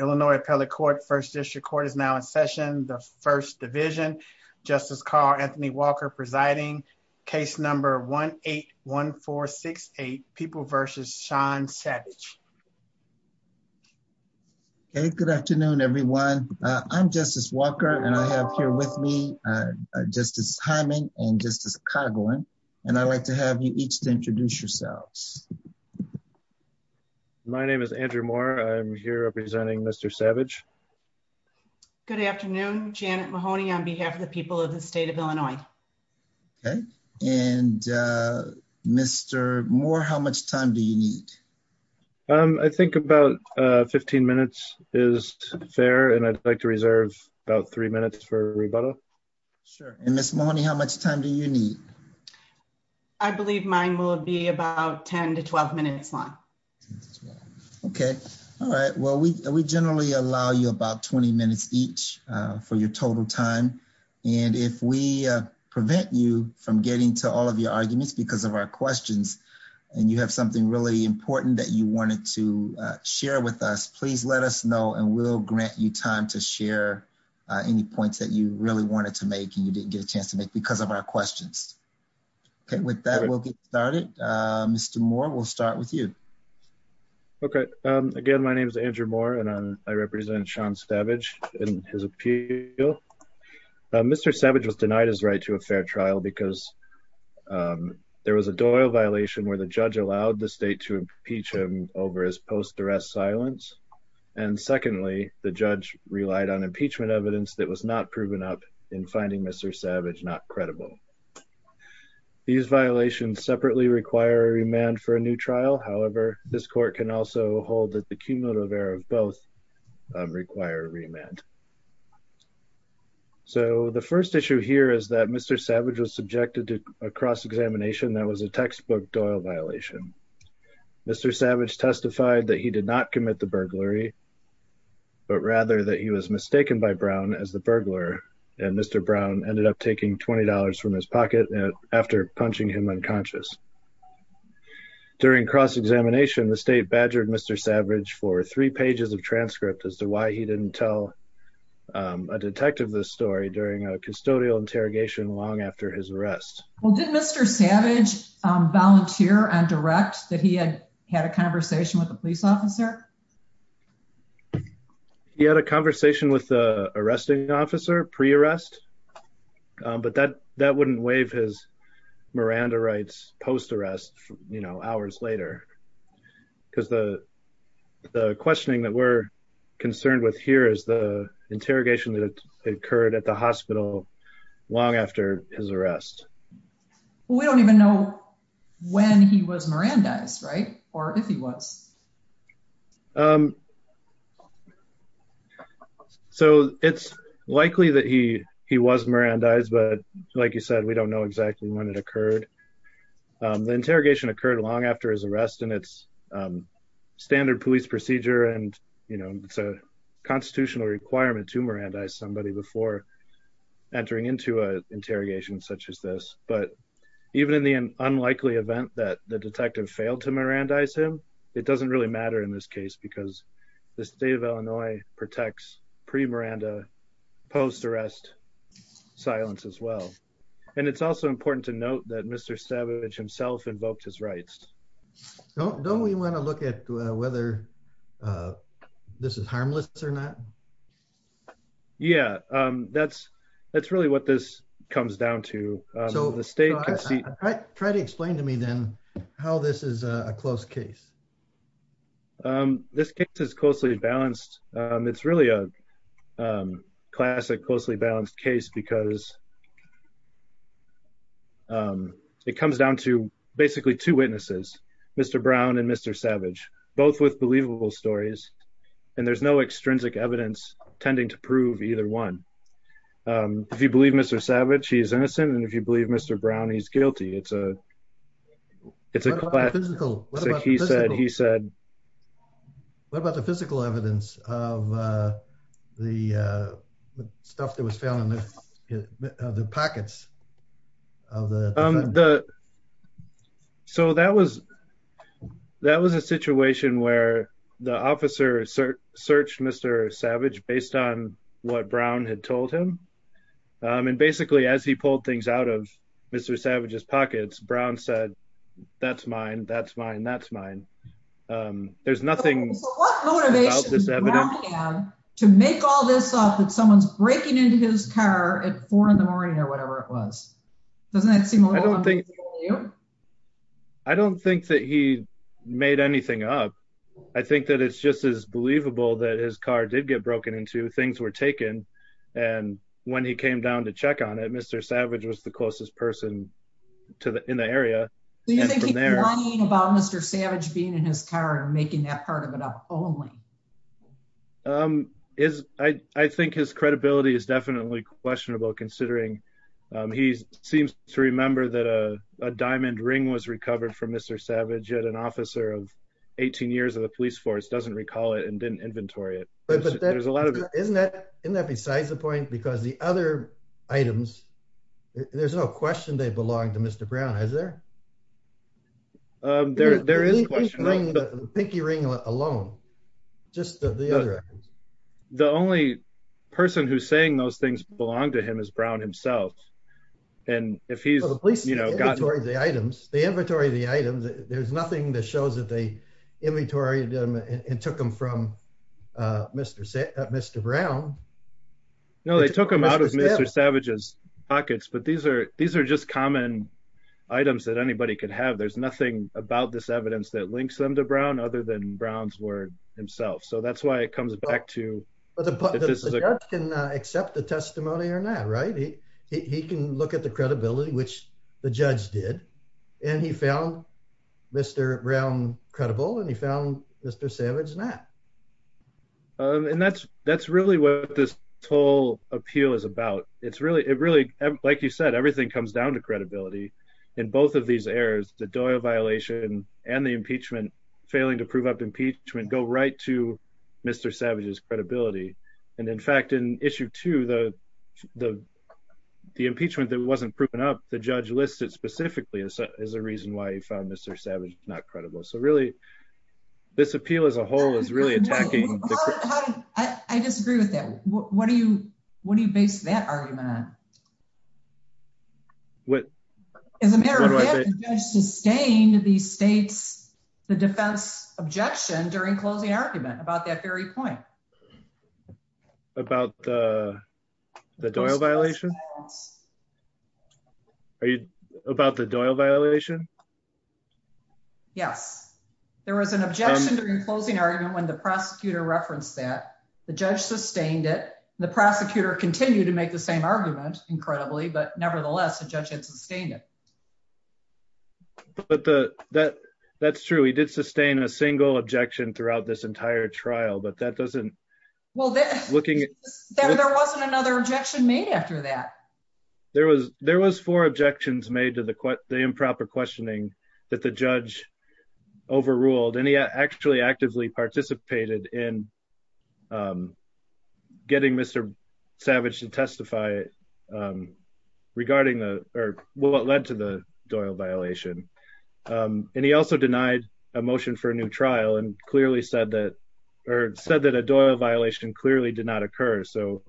Illinois Appellate Court, First District Court is now in session. The First Division, Justice Carl Anthony Walker presiding. Case number 1-8-1468, People v. Sean Savage. Okay, good afternoon everyone. I'm Justice Walker and I have here with me Justice Hyman and Justice Coghlan and I'd like to have you each to introduce yourselves. My name is Andrew Moore. I'm here representing Mr. Savage. Good afternoon, Janet Mahoney on behalf of the people of the state of Illinois. Okay, and Mr. Moore, how much time do you need? I think about 15 minutes is fair and I'd like to reserve about three minutes for rebuttal. Sure, and Ms. Mahoney, how much time do you need? I believe mine will be about 10-12 minutes long. Okay, all right. Well, we generally allow you about 20 minutes each for your total time and if we prevent you from getting to all of your arguments because of our questions and you have something really important that you wanted to share with us, please let us know and we'll grant you time to share any points that you really wanted to make and you didn't get a chance to because of our questions. Okay, with that, we'll get started. Mr. Moore, we'll start with you. Okay, again, my name is Andrew Moore and I represent Sean Savage in his appeal. Mr. Savage was denied his right to a fair trial because there was a Doyle violation where the judge allowed the state to impeach him over his post-arrest silence and secondly, the judge relied on impeachment evidence that was not proven up in finding Mr. Savage not credible. These violations separately require a remand for a new trial. However, this court can also hold that the cumulative error of both require a remand. So, the first issue here is that Mr. Savage was subjected to a cross-examination that was a textbook Doyle violation. Mr. Savage testified that he did not commit the burglary but rather that he was mistaken by Brown as the burglar and Mr. Brown ended up taking $20 from his pocket after punching him unconscious. During cross-examination, the state badgered Mr. Savage for three pages of transcript as to why he didn't tell a detective this story during a custodial interrogation long after his arrest. Well, did Mr. Savage volunteer on direct that he had a conversation with a police officer? He had a conversation with the arresting officer pre-arrest but that wouldn't waive his Miranda rights post-arrest, you know, hours later because the questioning that we're concerned with here is the interrogation that occurred at the hospital long after his arrest. We don't even know when he was Mirandized, right? Or if he was. So, it's likely that he was Mirandized but like you said, we don't know exactly when it occurred. The interrogation occurred long after his arrest and it's a standard police procedure and, you know, it's a constitutional requirement to Mirandize somebody before entering into an interrogation such as this. But even in the unlikely event that the detective failed to Mirandize him, it doesn't really matter in this case because the state of Illinois protects pre-Miranda post-arrest silence as well. And it's also important to note that Mr. Savage himself invoked his rights. Don't we want to look at whether this is harmless or not? Yeah, that's really what this comes down to. So, the state can see... Try to explain to me then how this is a close case. This case is closely balanced. It's really a classic closely balanced case because it comes down to basically two witnesses, Mr. Brown and Mr. Savage, both with believable stories and there's no extrinsic evidence tending to prove either one. If you believe Mr. Savage, he's innocent and if you believe Mr. Brown, he's guilty. It's a it's a classic. What about the physical evidence of the stuff that was found in the pockets of the defendants? So, that was a situation where the officer searched Mr. Savage based on what Brown had told him. And basically, as he pulled things out of Mr. Savage's pockets, Brown said, that's mine, that's mine, that's mine. There's nothing... to make all this up that someone's breaking into his car at four in the morning or whatever it was. Doesn't that seem a little... I don't think that he made anything up. I think that it's just as believable that his car did get broken into. Things were taken and when he came down to check on it, Mr. Savage was the closest person in the area. So, you think he's lying about Mr. Savage being in his car and is... I think his credibility is definitely questionable considering he seems to remember that a diamond ring was recovered from Mr. Savage, yet an officer of 18 years of the police force doesn't recall it and didn't inventory it. But there's a lot of... Isn't that besides the point? Because the other items, there's no question they belong to Mr. Brown, is there? There is a question. Pinky ring alone, just the other items. The only person who's saying those things belong to him is Brown himself. And if he's, you know, gotten... The inventory of the items, there's nothing that shows that they inventoried them and took them from Mr. Brown. No, they took them out of Mr. Savage's pockets, but these are just common items that anybody could have. There's nothing about this evidence that links them to Brown other than Brown's word himself. So, that's why it comes back to... But the judge can accept the testimony or not, right? He can look at the credibility, which the judge did, and he found Mr. Brown credible and he found Mr. Savage not. And that's really what this whole appeal is about. It's really... Like you said, everything comes down to credibility. In both of these errors, the Doyle violation and the impeachment failing to prove up impeachment go right to Mr. Savage's credibility. And in fact, in issue two, the impeachment that wasn't proven up, the judge listed specifically as a reason why he found Mr. Savage not credible. So, really, this appeal as a whole is really attacking... I disagree with that. What do you base that argument on? As a matter of fact, the judge sustained the defense objection during closing argument about that very point. About the Doyle violation? Are you... About the Doyle violation? Yes. There was an objection during closing argument when the prosecutor referenced that. The judge sustained it. The prosecutor continued to make the same argument, incredibly, but nevertheless, the judge had sustained it. But that's true. He did sustain a single objection throughout this entire trial, but that doesn't... Well, there wasn't another objection made after that. There was four objections made to the improper questioning that the judge overruled. And he actually actively participated in getting Mr. Savage to testify regarding what led to the Doyle violation. And he also denied a motion for a new trial and clearly said that... Or said that a Doyle violation clearly did not occur. So...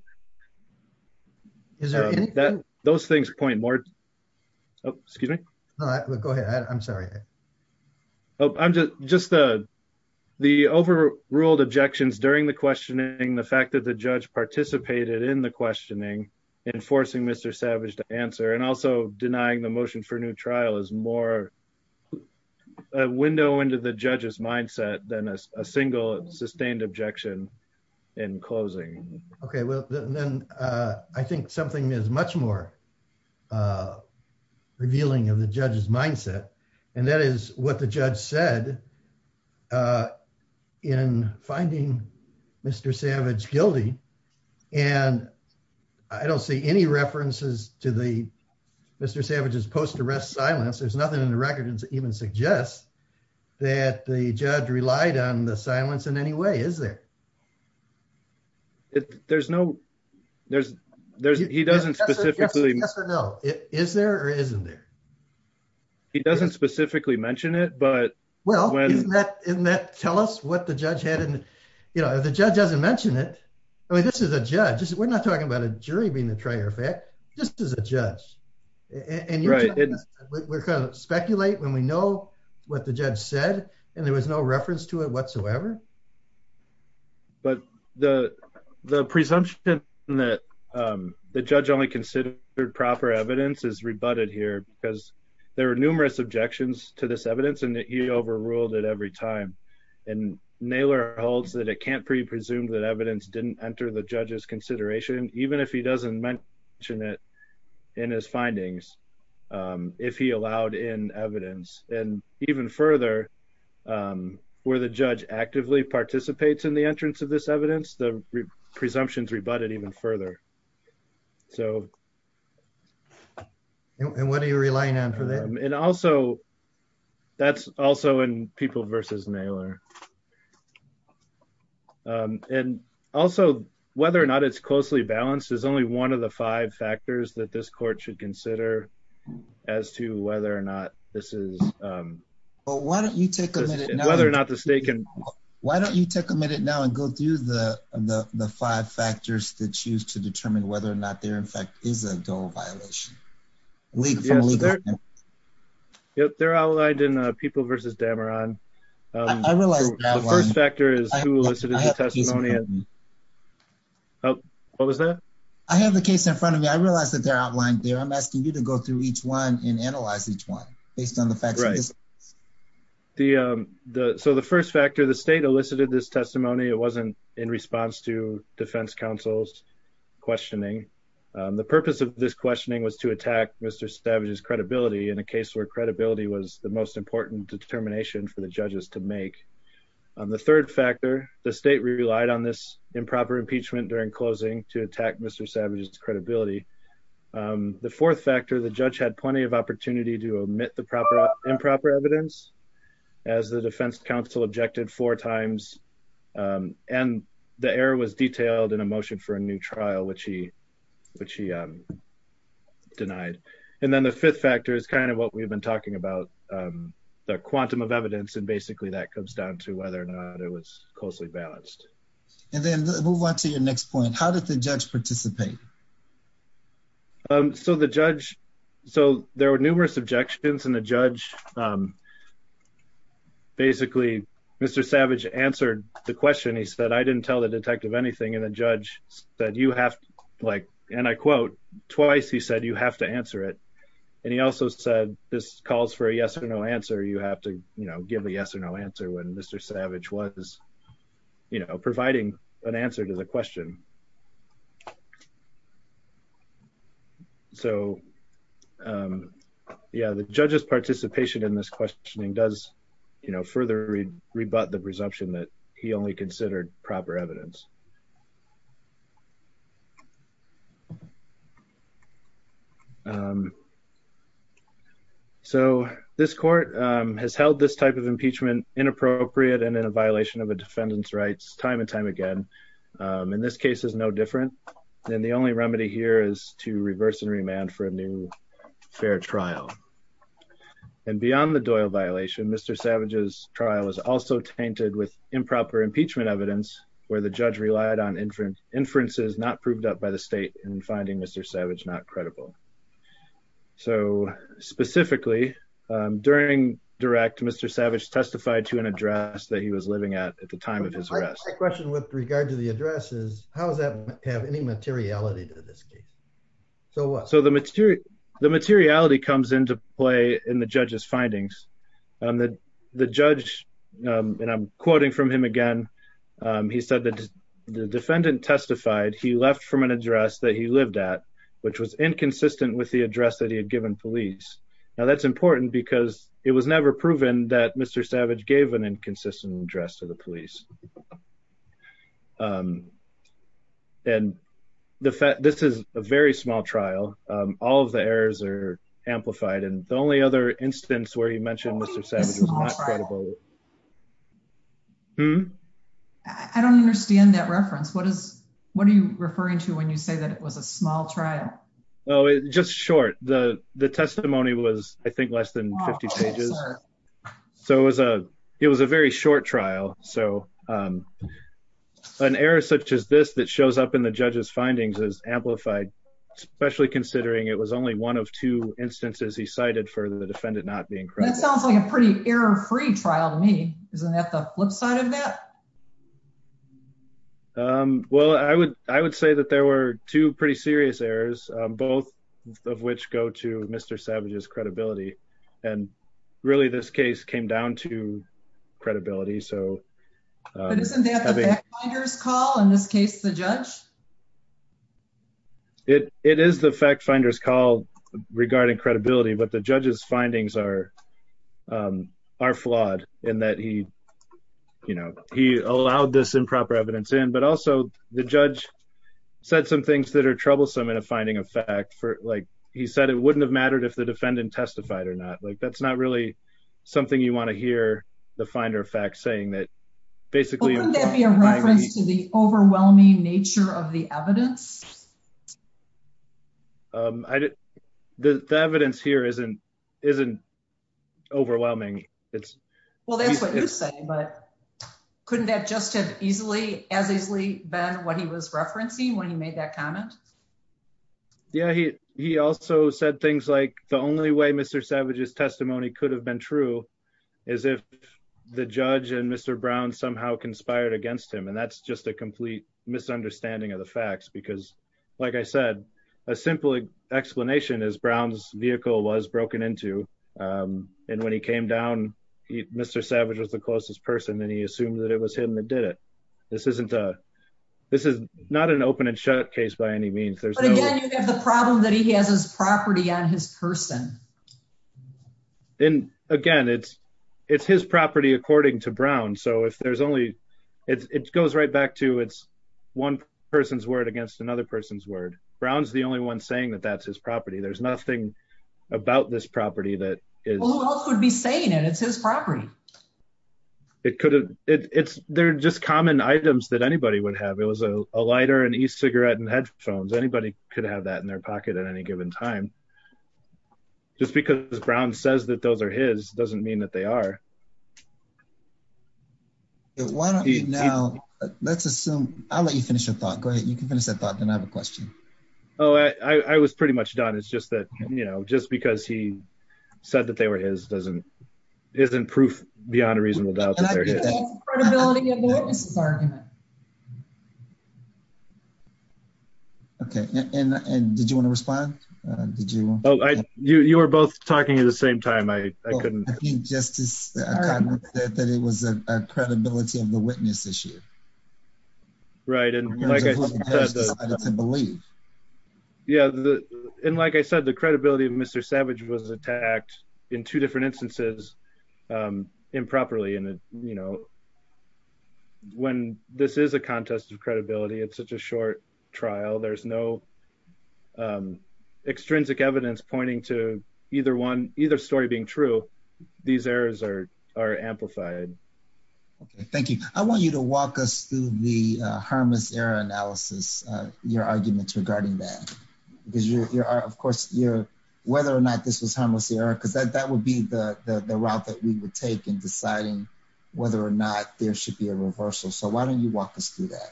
Is there anything? Those things point more... Oh, excuse me? No, go ahead. I'm sorry. Oh, I'm just... The overruled objections during the questioning, the fact that the judge participated in the questioning, enforcing Mr. Savage to answer, and also denying the motion for a new trial is more a window into the judge's mindset than a single sustained objection in closing. Okay. Well, then I think something is much more revealing of the judge's mindset. And that is what the judge said in finding Mr. Savage guilty. And I don't see any references to Mr. Savage's post-arrest silence. There's nothing in the record that even suggests that the judge relied on the silence in any way, is there? There's no... He doesn't specifically... Yes or no? Is there or isn't there? He doesn't specifically mention it, but... Well, isn't that... Tell us what the judge had in... If the judge doesn't mention it... I mean, this is a judge. We're not talking about a jury being the trier effect. This is a judge. And we're going to speculate when we know what the judge said, and there was no reference to it whatsoever. But the presumption that the judge only considered proper evidence is rebutted here because there were numerous objections to this evidence and that he overruled it every time. And Naylor holds that it can't be presumed that evidence didn't enter the judge's consideration, even if he doesn't mention it in his findings, if he allowed in evidence. And even further, where the judge actively participates in the process... And what are you relying on for that? And also, that's also in People v. Naylor. And also, whether or not it's closely balanced is only one of the five factors that this court should consider as to whether or not this is... But why don't you take a minute now... Whether or not the state can... Why don't you take a minute now and go through the five factors that choose to determine whether or not there, in fact, is a DOLE violation? Yep. They're outlined in People v. Dameron. I realized that one. The first factor is who elicited the testimony. What was that? I have the case in front of me. I realized that they're outlined there. I'm asking you to go through each one and analyze each one based on the facts. Right. So the first factor, the state elicited this testimony. It wasn't in response to defense counsel's questioning. The purpose of this questioning was to attack Mr. Savage's credibility in a case where credibility was the most important determination for the judges to make. The third factor, the state relied on this improper impeachment during closing to attack Mr. Savage's credibility. The fourth factor, the judge had plenty of opportunity to omit the improper evidence as the defense counsel objected four times. And the error was detailed in a motion for a new trial, which he denied. And then the fifth factor is kind of what we've been talking about, the quantum of evidence. And basically that comes down to whether or not it was closely balanced. And then move on to your next point. How did the judge participate? So the judge, so there were numerous objections in the judge. Basically, Mr. Savage answered the question. He said, I didn't tell the detective anything. The judge said, you have to like, and I quote, twice, he said, you have to answer it. And he also said, this calls for a yes or no answer. You have to give a yes or no answer when Mr. Savage was providing an answer to the question. So yeah, the judge's participation in this questioning does further rebut the presumption that he only considered proper evidence. So this court has held this type of impeachment inappropriate and in a violation of a defendant's rights time and time again. In this case is no different. And the only remedy here is to reverse and remand for a new fair trial. And beyond the Doyle violation, Mr. Savage's trial was also tainted with improper impeachment evidence where the judge relied on inferences not proved up by the state in finding Mr. Savage not credible. So specifically during direct, Mr. Savage testified to an address that he was living at at the time of his arrest. My question with regard to the address is how does that have any materiality to this case? So the materiality comes into play in the judge's findings. The judge, and I'm quoting from him again, he said that the defendant testified he left from an address that he lived at which was inconsistent with the address that he had given police. Now that's important because it was never proven that Mr. Savage gave an inconsistent address to the police. And the fact, this is a very small trial. All of the errors are amplified. And the only other instance where he mentioned Mr. Savage was not credible. I don't understand that reference. What is, what are you referring to when you say that it was a small trial? Oh, it's just short. The, the testimony was, I think, less than 50 pages. So it was a, it was a um, an error such as this that shows up in the judge's findings is amplified, especially considering it was only one of two instances he cited for the defendant not being credible. That sounds like a pretty error-free trial to me. Isn't that the flip side of that? Um, well, I would, I would say that there were two pretty serious errors, both of which go to credibility. So, um, But isn't that the fact finder's call in this case, the judge? It, it is the fact finder's call regarding credibility, but the judge's findings are, um, are flawed in that he, you know, he allowed this improper evidence in, but also the judge said some things that are troublesome in a finding of fact for, like he said, it wouldn't have mattered if the defendant testified or not. Like, that's not really something you want to hear the finder of facts saying that basically Wouldn't that be a reference to the overwhelming nature of the evidence? Um, I didn't, the evidence here isn't, isn't overwhelming. It's Well, that's what you say, but couldn't that just have easily as easily been what he was referencing when he made that comment? Yeah, he, he also said things like the only way Mr. Savage's testimony could have been true is if the judge and Mr. Brown somehow conspired against him. And that's just a complete misunderstanding of the facts, because like I said, a simple explanation is Brown's vehicle was broken into. Um, and when he came down, Mr. Savage was the closest person and he assumed that was him that did it. This isn't a, this is not an open and shut case by any means. There's the problem that he has his property on his person. And again, it's, it's his property according to Brown. So if there's only, it goes right back to it's one person's word against another person's word. Brown's the only one saying that that's his property. There's nothing about this property that could be saying, and it's his property. It could, it's, they're just common items that anybody would have. It was a lighter, an e-cigarette and headphones. Anybody could have that in their pocket at any given time. Just because Brown says that those are his doesn't mean that they are. Why don't you now, let's assume I'll let you finish your thought. Go ahead. You can finish that thought. Then I have a question. Oh, I, I was pretty much done. It's just that, you know, just because he said that they were his doesn't, isn't proof beyond a reasonable doubt. Okay. And, and did you want to respond? Did you, you, you were both talking at the same time. I, I couldn't think justice that it was a credibility of the witness issue. Right. And like I said, yeah. And like I said, the credibility of Mr. Savage was attacked in two different instances improperly. And you know, when this is a contest of credibility, it's such a short trial. There's no extrinsic evidence pointing to either one, either story these errors are, are amplified. Okay. Thank you. I want you to walk us through the harmless error analysis, your arguments regarding that because you're, you're of course you're whether or not this was harmless error, because that, that would be the, the, the route that we would take in deciding whether or not there should be a reversal. So why don't you walk us through that?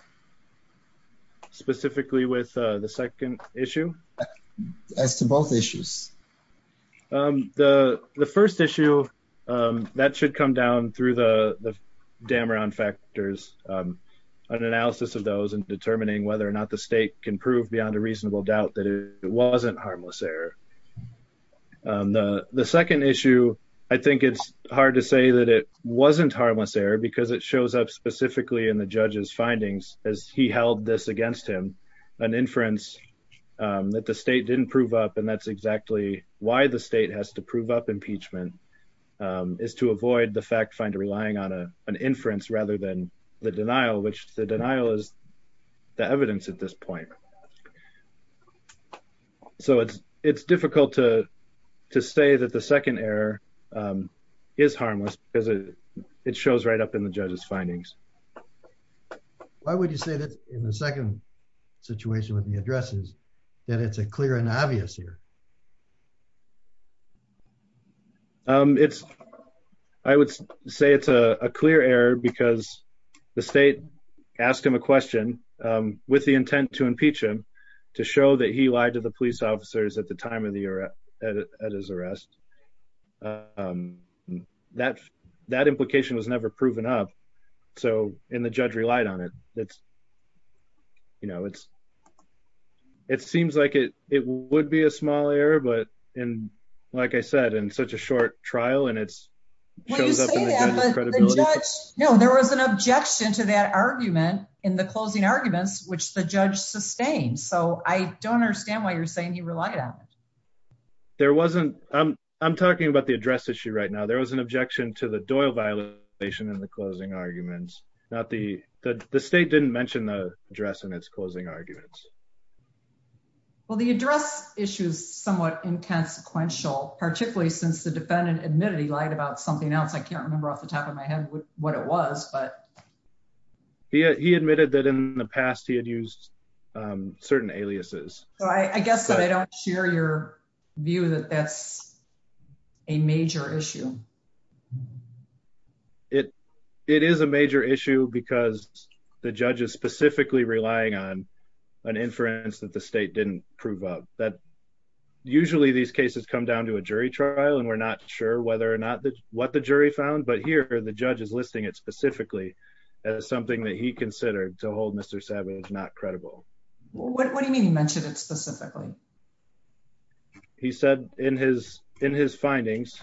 Specifically with the second issue as to both issues. The first issue that should come down through the Dameron factors, an analysis of those in determining whether or not the state can prove beyond a reasonable doubt that it wasn't harmless error. The second issue, I think it's hard to say that it wasn't harmless error because it shows up specifically in the judge's as he held this against him, an inference that the state didn't prove up. And that's exactly why the state has to prove up impeachment is to avoid the fact find a relying on a, an inference rather than the denial, which the denial is the evidence at this point. So it's, it's difficult to, to say that the second error is harmless because it shows right up in the judge's findings. Why would you say that in the second situation with the addresses that it's a clear and obvious here? It's, I would say it's a clear error because the state asked him a question with the intent to impeach him to show that he lied to the police officers at the time of the era at his arrest. Um, that, that implication was never proven up. So in the judge relied on it. That's, you know, it's, it seems like it, it would be a small error, but in, like I said, in such a short trial and it's credibility. No, there was an objection to that argument in the closing arguments, which the judge sustained. So I don't understand why you're saying he relied on it. There wasn't, um, I'm talking about the address issue right now. There was an objection to the Doyle violation in the closing arguments, not the, the state didn't mention the address in its closing arguments. Well, the address issue is somewhat inconsequential, particularly since the defendant admitted he lied about something else. I can't remember off the top of my head what it was, but yeah, he admitted that in the past he had used, um, certain aliases. So I guess that I don't share your view that that's a major issue. It, it is a major issue because the judge is specifically relying on an inference that the state didn't prove up that usually these cases come down to a jury trial and we're not sure whether or not what the jury found, but here the judge is listing it specifically as something that he considered to hold Mr. Savage not credible. What do you mean he mentioned it specifically? He said in his, in his findings,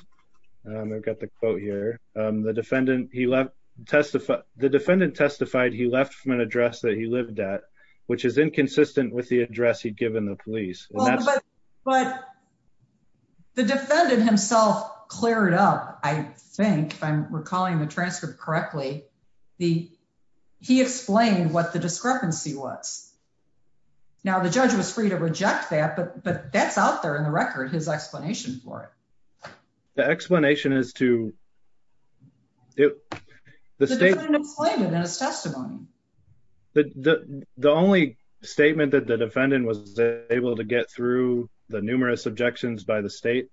um, I've got the quote here. Um, the defendant, he left testified, the defendant testified he left from an address that he lived at, which is inconsistent with the address he'd given the police. But the defendant himself cleared up. I think if I'm recalling the transcript correctly, the, he explained what the discrepancy was. Now the judge was free to reject that, but, but that's out there in the record, his explanation for it. The explanation is to the state in his testimony, the, the, the only statement that the defendant was able to get through the numerous objections by the state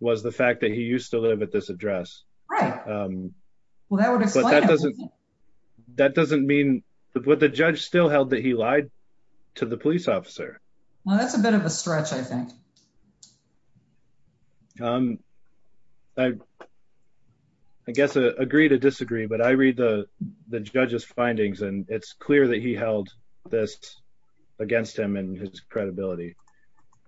was the fact that he used to live at this address. Right. Um, well, that doesn't, that doesn't mean what the judge still held that he lied to the police officer. Well, that's a bit of a stretch. I think, um, I, I guess, uh, agree to disagree, but I read the judge's findings and it's clear that he held this against him and his credibility.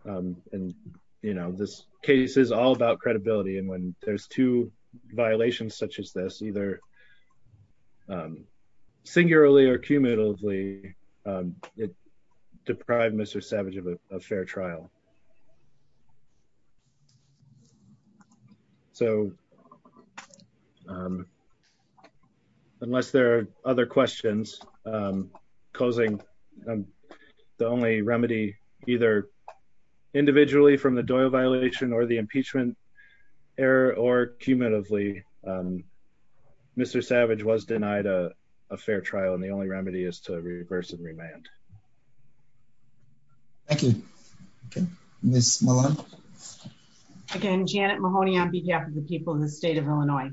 Um, and you know, this case is all about credibility. And when there's two violations such as this, either, um, singularly or cumulatively, it deprived Mr. Savage of a fair trial. So, um, unless there are other questions, um, closing, um, the only remedy either individually from the Doyle violation or the impeachment error or cumulatively, um, Mr. Savage was denied a fair trial. And the only remedy is to reverse and remand. Thank you. Okay. Again, Janet Mahoney on behalf of the people in the state of Illinois,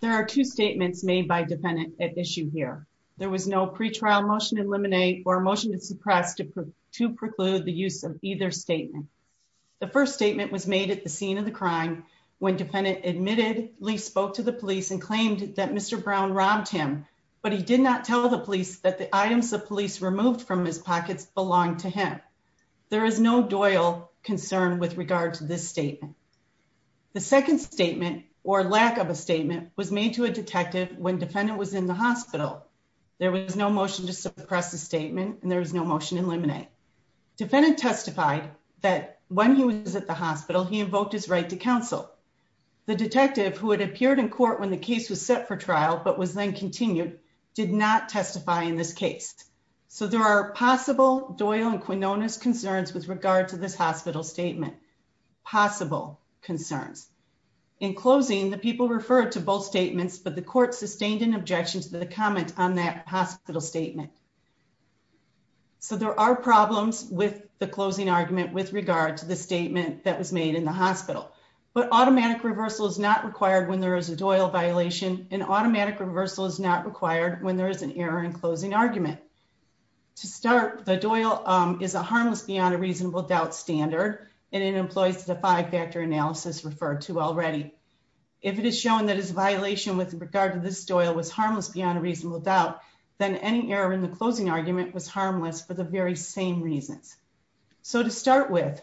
there are two statements made by dependent at issue here. There was no pre-trial motion or a motion to suppress to, to preclude the use of either statement. The first statement was made at the scene of the crime. When defendant admitted Lee spoke to the police and claimed that Mr. Brown robbed him, but he did not tell the police that the items of police removed from his pockets belong to him. There is no Doyle concern with regard to this statement. The second statement or lack of a statement was made to a detective when defendant was in the hospital. There was no motion to suppress the statement and there was no motion to eliminate. Defendant testified that when he was at the hospital, he invoked his right to counsel the detective who had appeared in court when the case was set for trial, but was then continued, did not testify in this case. So there are possible Doyle and Quinonez concerns with regard to this hospital statement, possible concerns in closing the people referred to both statements, but the court sustained an comment on that hospital statement. So there are problems with the closing argument with regard to the statement that was made in the hospital, but automatic reversal is not required when there is a Doyle violation and automatic reversal is not required when there is an error in closing argument. To start the Doyle is a harmless beyond a reasonable doubt standard, and it employs the five factor analysis referred to already. If it is shown that his violation with regard to this Doyle was harmless beyond a reasonable doubt, then any error in the closing argument was harmless for the very same reasons. So to start with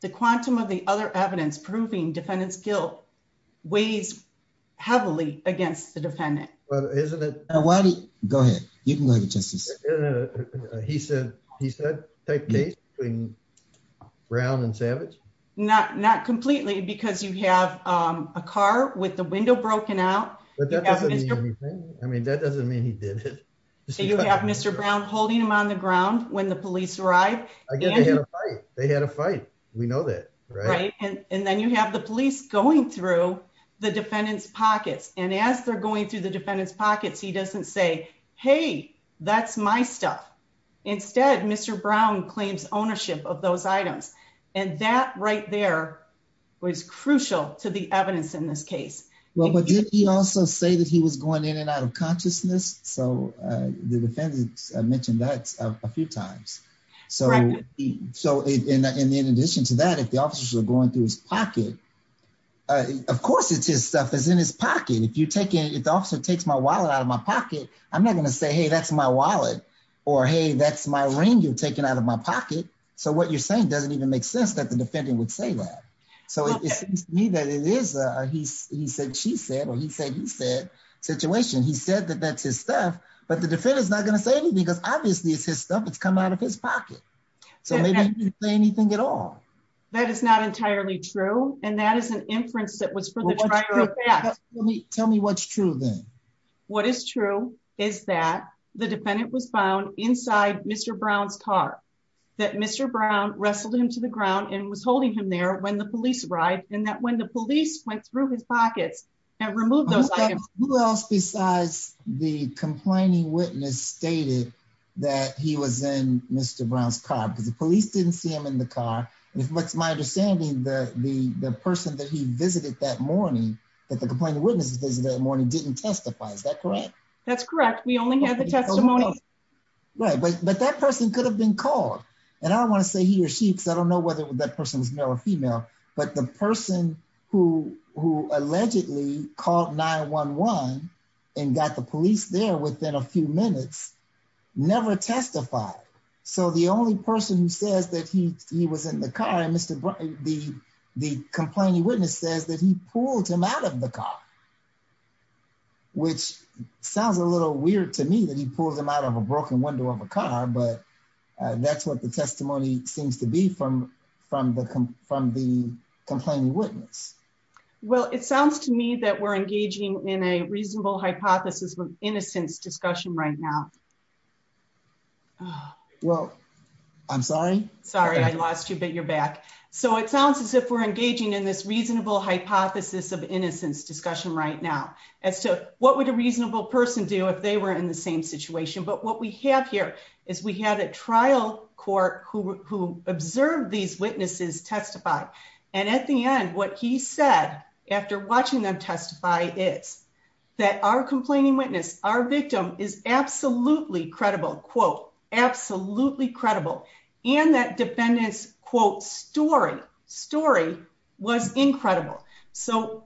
the quantum of the other evidence proving defendant's guilt weighs heavily against the defendant. Well, isn't it? Why do you go ahead? You can go to justice. He said, he said, take the case between brown and savage. Not, not completely because you have a car with the window broken out. I mean, that doesn't mean he did it. So you have Mr. Brown holding him on the ground when the police arrived, they had a fight. We know that. Right. And then you have the police going through the defendant's pockets. And as they're going through the defendant's pockets, he doesn't say, Hey, that's my stuff. Instead, Mr. Brown claims ownership of those items. And that right there was crucial to the evidence in this case. Well, but did he also say that he was going in and out of consciousness? So the defendant mentioned that a few times. So, so in addition to that, if the officers were going through his pocket, of course, it's his stuff is in his pocket. If you take it, it also takes my wallet out of my pocket. I'm not going to say, Hey, that's my wallet or, Hey, that's my ring you've made sense that the defendant would say that. So it seems to me that it is a, he's he said, she said, or he said, he said situation. He said that that's his stuff, but the defendant is not going to say anything because obviously it's his stuff. It's come out of his pocket. So maybe he didn't say anything at all. That is not entirely true. And that is an inference that was for the driver. Tell me what's true then. What is true is that the defendant was found inside mr. Brown's car, that mr. Brown wrestled him to the ground and was holding him there when the police arrived and that when the police went through his pockets and removed those items, who else besides the complaining witness stated that he was in mr. Brown's car because the police didn't see him in the car. And if what's my understanding, the, the, the person that he visited that morning, that the complainant witnesses visited that morning didn't testify. Is that correct? That's correct. We only had the testimony, right? But, but that person could have been called and I don't want to say he or she, because I don't know whether that person was male or female, but the person who, who allegedly called nine one one and got the police there within a few minutes, never testified. So the only person who says that he, he was in the car and mr. Brown, the, the complaining witness says that he pulled him out of the car, which sounds a little weird to me that he pulled him out of a broken window of a car, but that's what the testimony seems to be from, from the, from the complaining witness. Well, it sounds to me that we're engaging in a reasonable hypothesis with innocence discussion right now. Well, I'm sorry. Sorry. I lost you, but you're back. So it sounds as if we're engaging in this reasonable hypothesis of innocence discussion right now as to what would a reasonable person do if they were in the same situation. But what we have here is we had a trial court who, who observed these witnesses testify. And at the end, what he said after watching them testify is that our complaining witness, our victim is absolutely credible quote, absolutely credible. And that defendants quote story story was incredible. So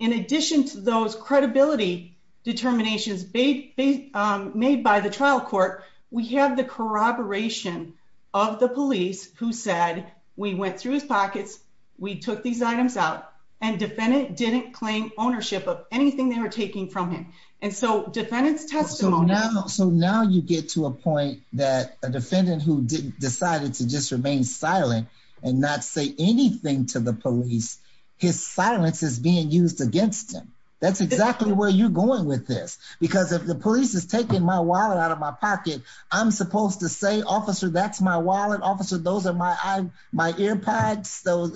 in addition to those credibility determinations made, made by the trial court, we have the corroboration of the police who said, we went through his pockets. We took these items out and defendant didn't claim ownership of anything they were taking from him. And so defendants testimony. So now you get to a point that a defendant who decided to just remain silent and not say anything to the police, his silence is being used against him. That's exactly where you're going with this. Because if the police has taken my wallet out of my pocket, I'm supposed to say, officer, that's my wallet officer. Those are my, my ear pads. So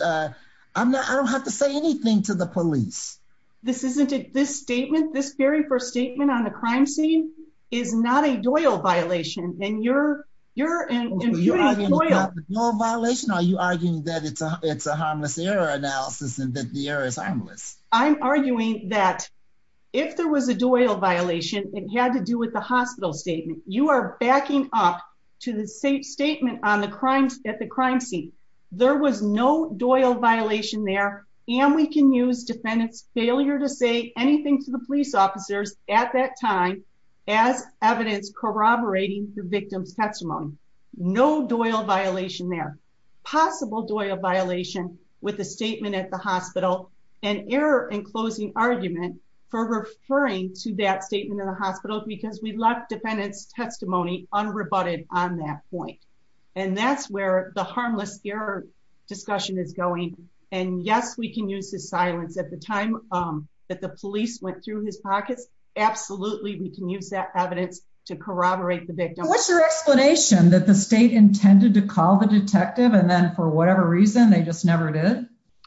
I'm not, I don't have to say anything to the police. This isn't it. This statement, this very first statement on the crime scene is not a Doyle violation. And you're, you're in violation. Are you arguing that it's a, it's a harmless error analysis and that the error is harmless. I'm arguing that if there was a Doyle violation, it had to do with the hospital statement, you are backing up to the safe statement on the crimes at the crime scene. There was no Doyle violation there. And we can use defendants failure to say anything to the police officers at that time as evidence corroborating the victim's testimony, no Doyle violation, their possible Doyle violation with the statement at the hospital and error and closing argument for referring to that statement in the hospital because we left defendants testimony unrebutted on that point. And that's where the harmless error discussion is going. And yes, we can use the silence at the time that the police went through his pockets. Absolutely. We can use that evidence to corroborate the victim. What's your explanation that the state intended to call the detective? And then for whatever reason, they just never did.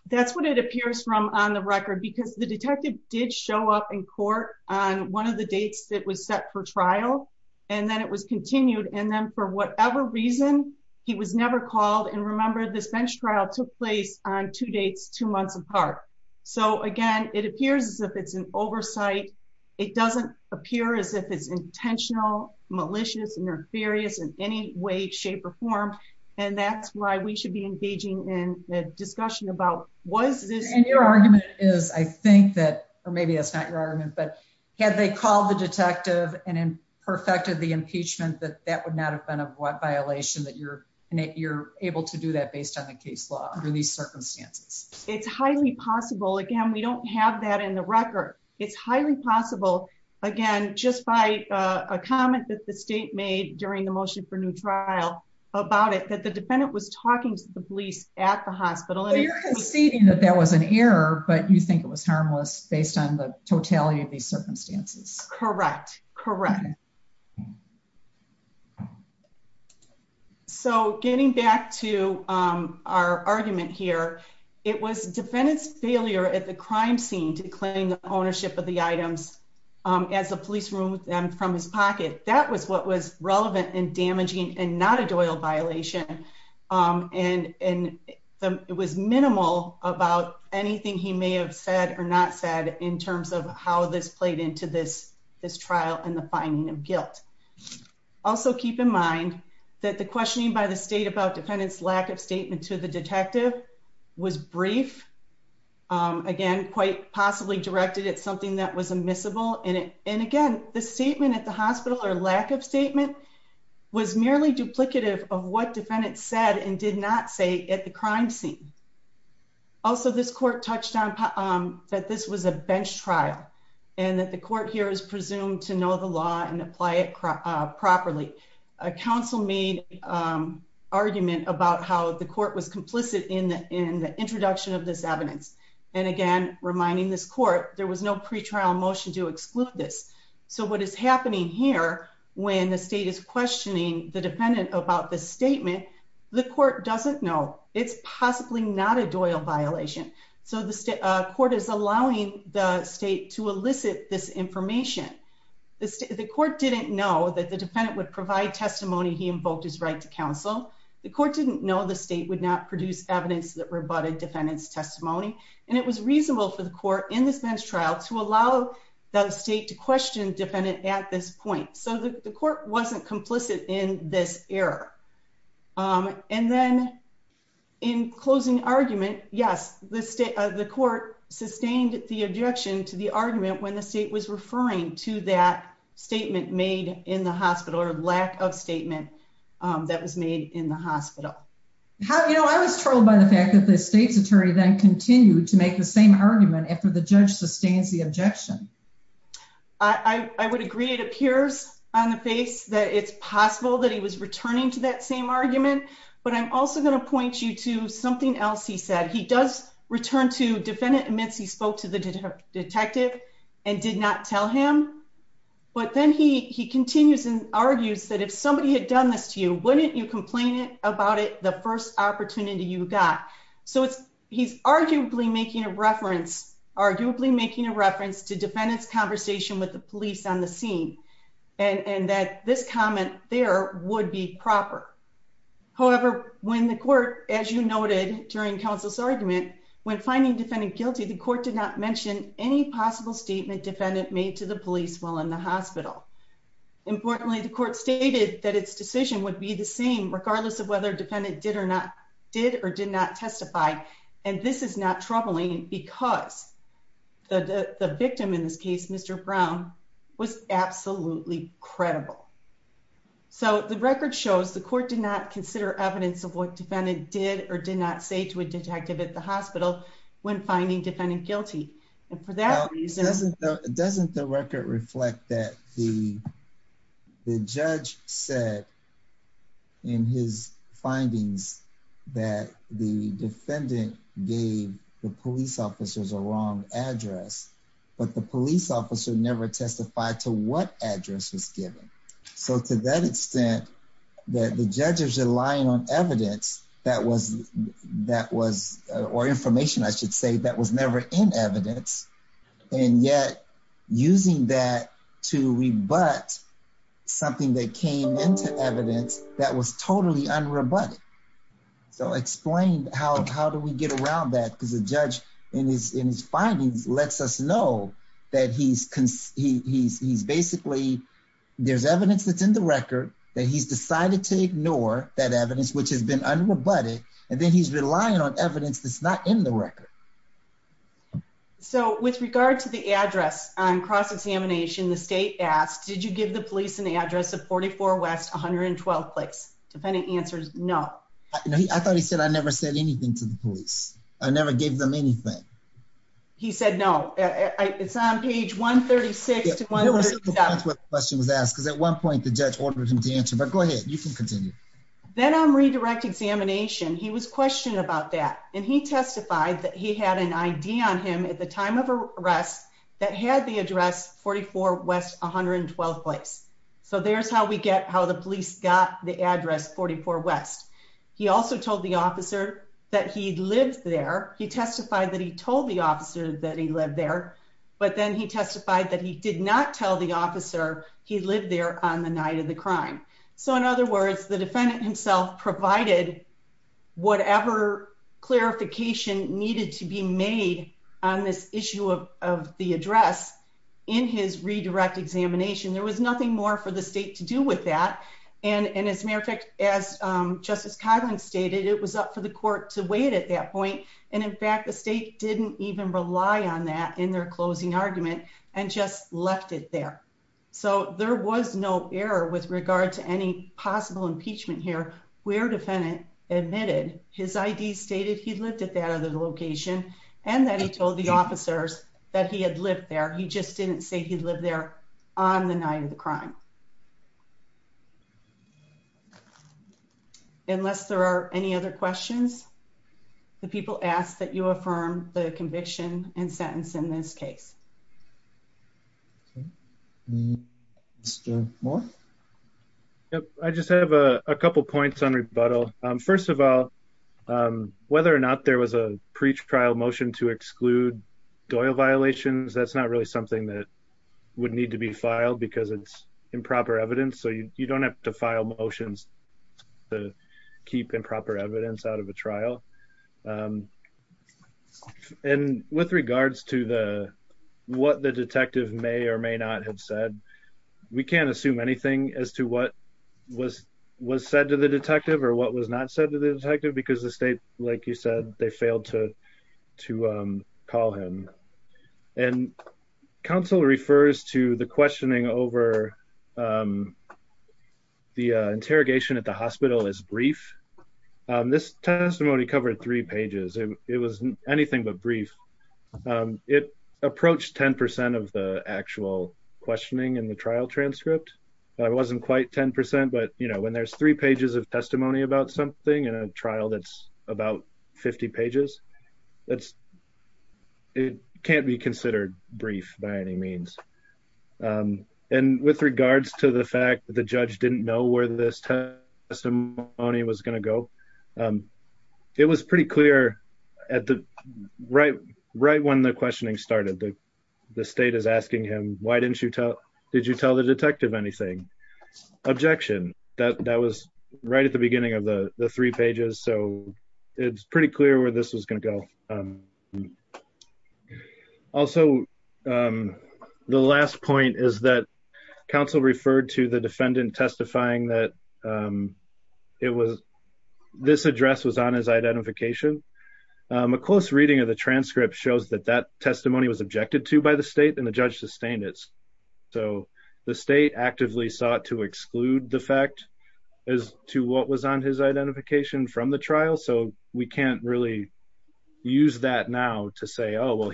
That's what it appears from on the record because the detective did show up in court on one of the dates that was set for trial. And then it was continued. And then for whatever reason, he was never called. And remember, this bench trial took place on two dates, two months apart. So again, it appears as if it's an oversight. It doesn't appear as if it's intentional, malicious, and nefarious in any way, shape or form. And that's why we should be engaging in a discussion about was this argument is I think that or maybe that's not your argument, but had they called the detective and then perfected the impeachment that that would not have been a violation that you're in it, you're able to do that based on the case law under these circumstances. It's highly possible. Again, we don't have that in the record. It's highly possible. Again, just by a comment that the state made during the motion for new trial about it that the defendant was talking to the police at the hospital. You're conceding that that was an error, but you think it was harmless based on the totality of these circumstances? Correct. Correct. So getting back to our argument here, it was defendant's failure at the crime scene to claim the ownership of the items as a police room from his pocket. That was what was relevant and not a doyle violation. Um, and, and it was minimal about anything he may have said or not said in terms of how this played into this, this trial and the finding of guilt. Also keep in mind that the questioning by the state about defendants, lack of statement to the detective was brief. Um, again, quite possibly directed at something that was immiscible in it. And again, the statement at the hospital or lack of statement was merely duplicative of what defendants said and did not say at the crime scene. Also, this court touched on, um, that this was a bench trial and that the court here is presumed to know the law and apply it properly. A council made, um, argument about how the court was complicit in the, in the introduction of this what is happening here when the state is questioning the defendant about the statement, the court doesn't know it's possibly not a doyle violation. So the state court is allowing the state to elicit this information. The state, the court didn't know that the defendant would provide testimony. He invoked his right to counsel. The court didn't know the state would not produce evidence that rebutted defendant's testimony. And it was reasonable for the court in this bench trial to allow the state to question defendant at this point. So the court wasn't complicit in this error. Um, and then in closing argument, yes, the state of the court sustained the objection to the argument when the state was referring to that statement made in the hospital or lack of statement, um, that was made in the hospital. How, you know, I was judge sustains the objection. I would agree. It appears on the face that it's possible that he was returning to that same argument. But I'm also going to point you to something else. He said he does return to defendant admits he spoke to the detective and did not tell him. But then he continues and argues that if somebody had done this to you, wouldn't you complain about it? First opportunity you got. So it's he's arguably making a reference, arguably making a reference to defendants conversation with the police on the scene and that this comment there would be proper. However, when the court, as you noted during council's argument, when finding defendant guilty, the court did not mention any possible statement defendant made to the police while in the hospital. Importantly, the court stated that its decision would be the same regardless of their defendant did or not did or did not testify. And this is not troubling because the victim in this case, Mr Brown, was absolutely credible. So the record shows the court did not consider evidence of what defendant did or did not say to a detective at the hospital when finding defendant guilty. And for that reason, doesn't the record reflect that the findings that the defendant gave the police officers a wrong address, but the police officer never testified to what address was given. So to that extent, that the judges are lying on evidence that was that was or information I should say that was never in evidence. And yet, using that to rebut something that came into evidence that was totally unrebutted. So explain how do we get around that? Because the judge in his in his findings lets us know that he's he's basically there's evidence that's in the record that he's decided to ignore that evidence, which has been unrebutted. And then he's relying on evidence that's not in the record. So with regard to the address on cross examination, the state asked, Did you give the police in the address of 44 West 112 clicks? Defendant answers? No, I thought he said I never said anything to the police. I never gave them anything. He said no. It's on page 1 36 to 1. Question was asked because at one point the judge ordered him to answer. But go ahead. You can continue. Then I'm redirect examination. He was questioned about that, and he testified that he had an idea on him at the time of arrest that had the address 44 West 112 place. So there's how we get how the police got the address 44 West. He also told the officer that he lived there. He testified that he told the officer that he lived there. But then he testified that he did not tell the officer he lived there on the night of the crime. So in other words, the defendant himself provided whatever clarification needed to be made on this issue of the address in his redirect examination. There was nothing more for the state to do with that. And as a matter of fact, as Justice Kylin stated, it was up for the court to wait at that point. And in fact, the state didn't even rely on that in their closing argument and just left it there. So there was no error with regard to any possible impeachment here. Where defendant admitted his I. D. Stated he lived at that other location and that he told the officers that he had lived there. He just didn't say he lived there on the night of the crime. Unless there are any other questions, the people asked that you affirm the conviction and sentence in this case. Yep. I just have a couple points on rebuttal. First of all, whether or not there was a pre-trial motion to exclude Doyle violations, that's not really something that would need to be filed because it's improper evidence. So you don't have to file motions to keep improper evidence out of a trial. And with regards to what the detective may or may not have said, we can't assume anything as to what was said to the detective or what was not said to the detective because the state, like you said, they failed to call him. And counsel refers to the questioning over the interrogation at the hospital as brief. This testimony covered three pages. It was anything but brief. It approached 10% of the actual questioning in the trial transcript. It wasn't quite 10%, but when there's three pages of testimony about something in a trial, that's about 50 pages. It can't be considered brief by any means. And with regards to the fact that the judge didn't know where this testimony was going to go, it was pretty clear right when the questioning started. The state is asking him, why didn't you tell, did you tell the detective anything? Objection. That was right at the beginning of the three pages. So it's pretty clear where this was going to go. Also, the last point is that counsel referred to the defendant testifying that this address was on his identification. A close reading of the transcript shows that that testimony was objected to by the state and the judge sustained it. So the state actively sought to exclude the fact as to what was on his identification from the trial. So we can't really use that now to say, oh, well,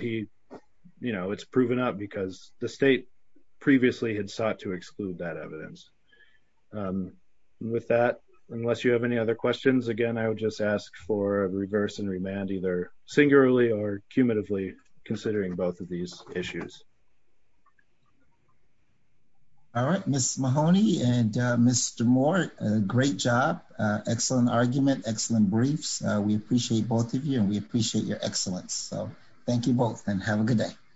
it's proven up because the state previously had sought to exclude that evidence. With that, unless you have any other questions, again, I would just ask for a reverse and remand either singularly or cumulatively considering both of these issues. All right, Ms. Mahoney and Mr. Moore, great job. Excellent argument, excellent briefs. We appreciate both of you and we appreciate your excellence. So thank you both and have a good day.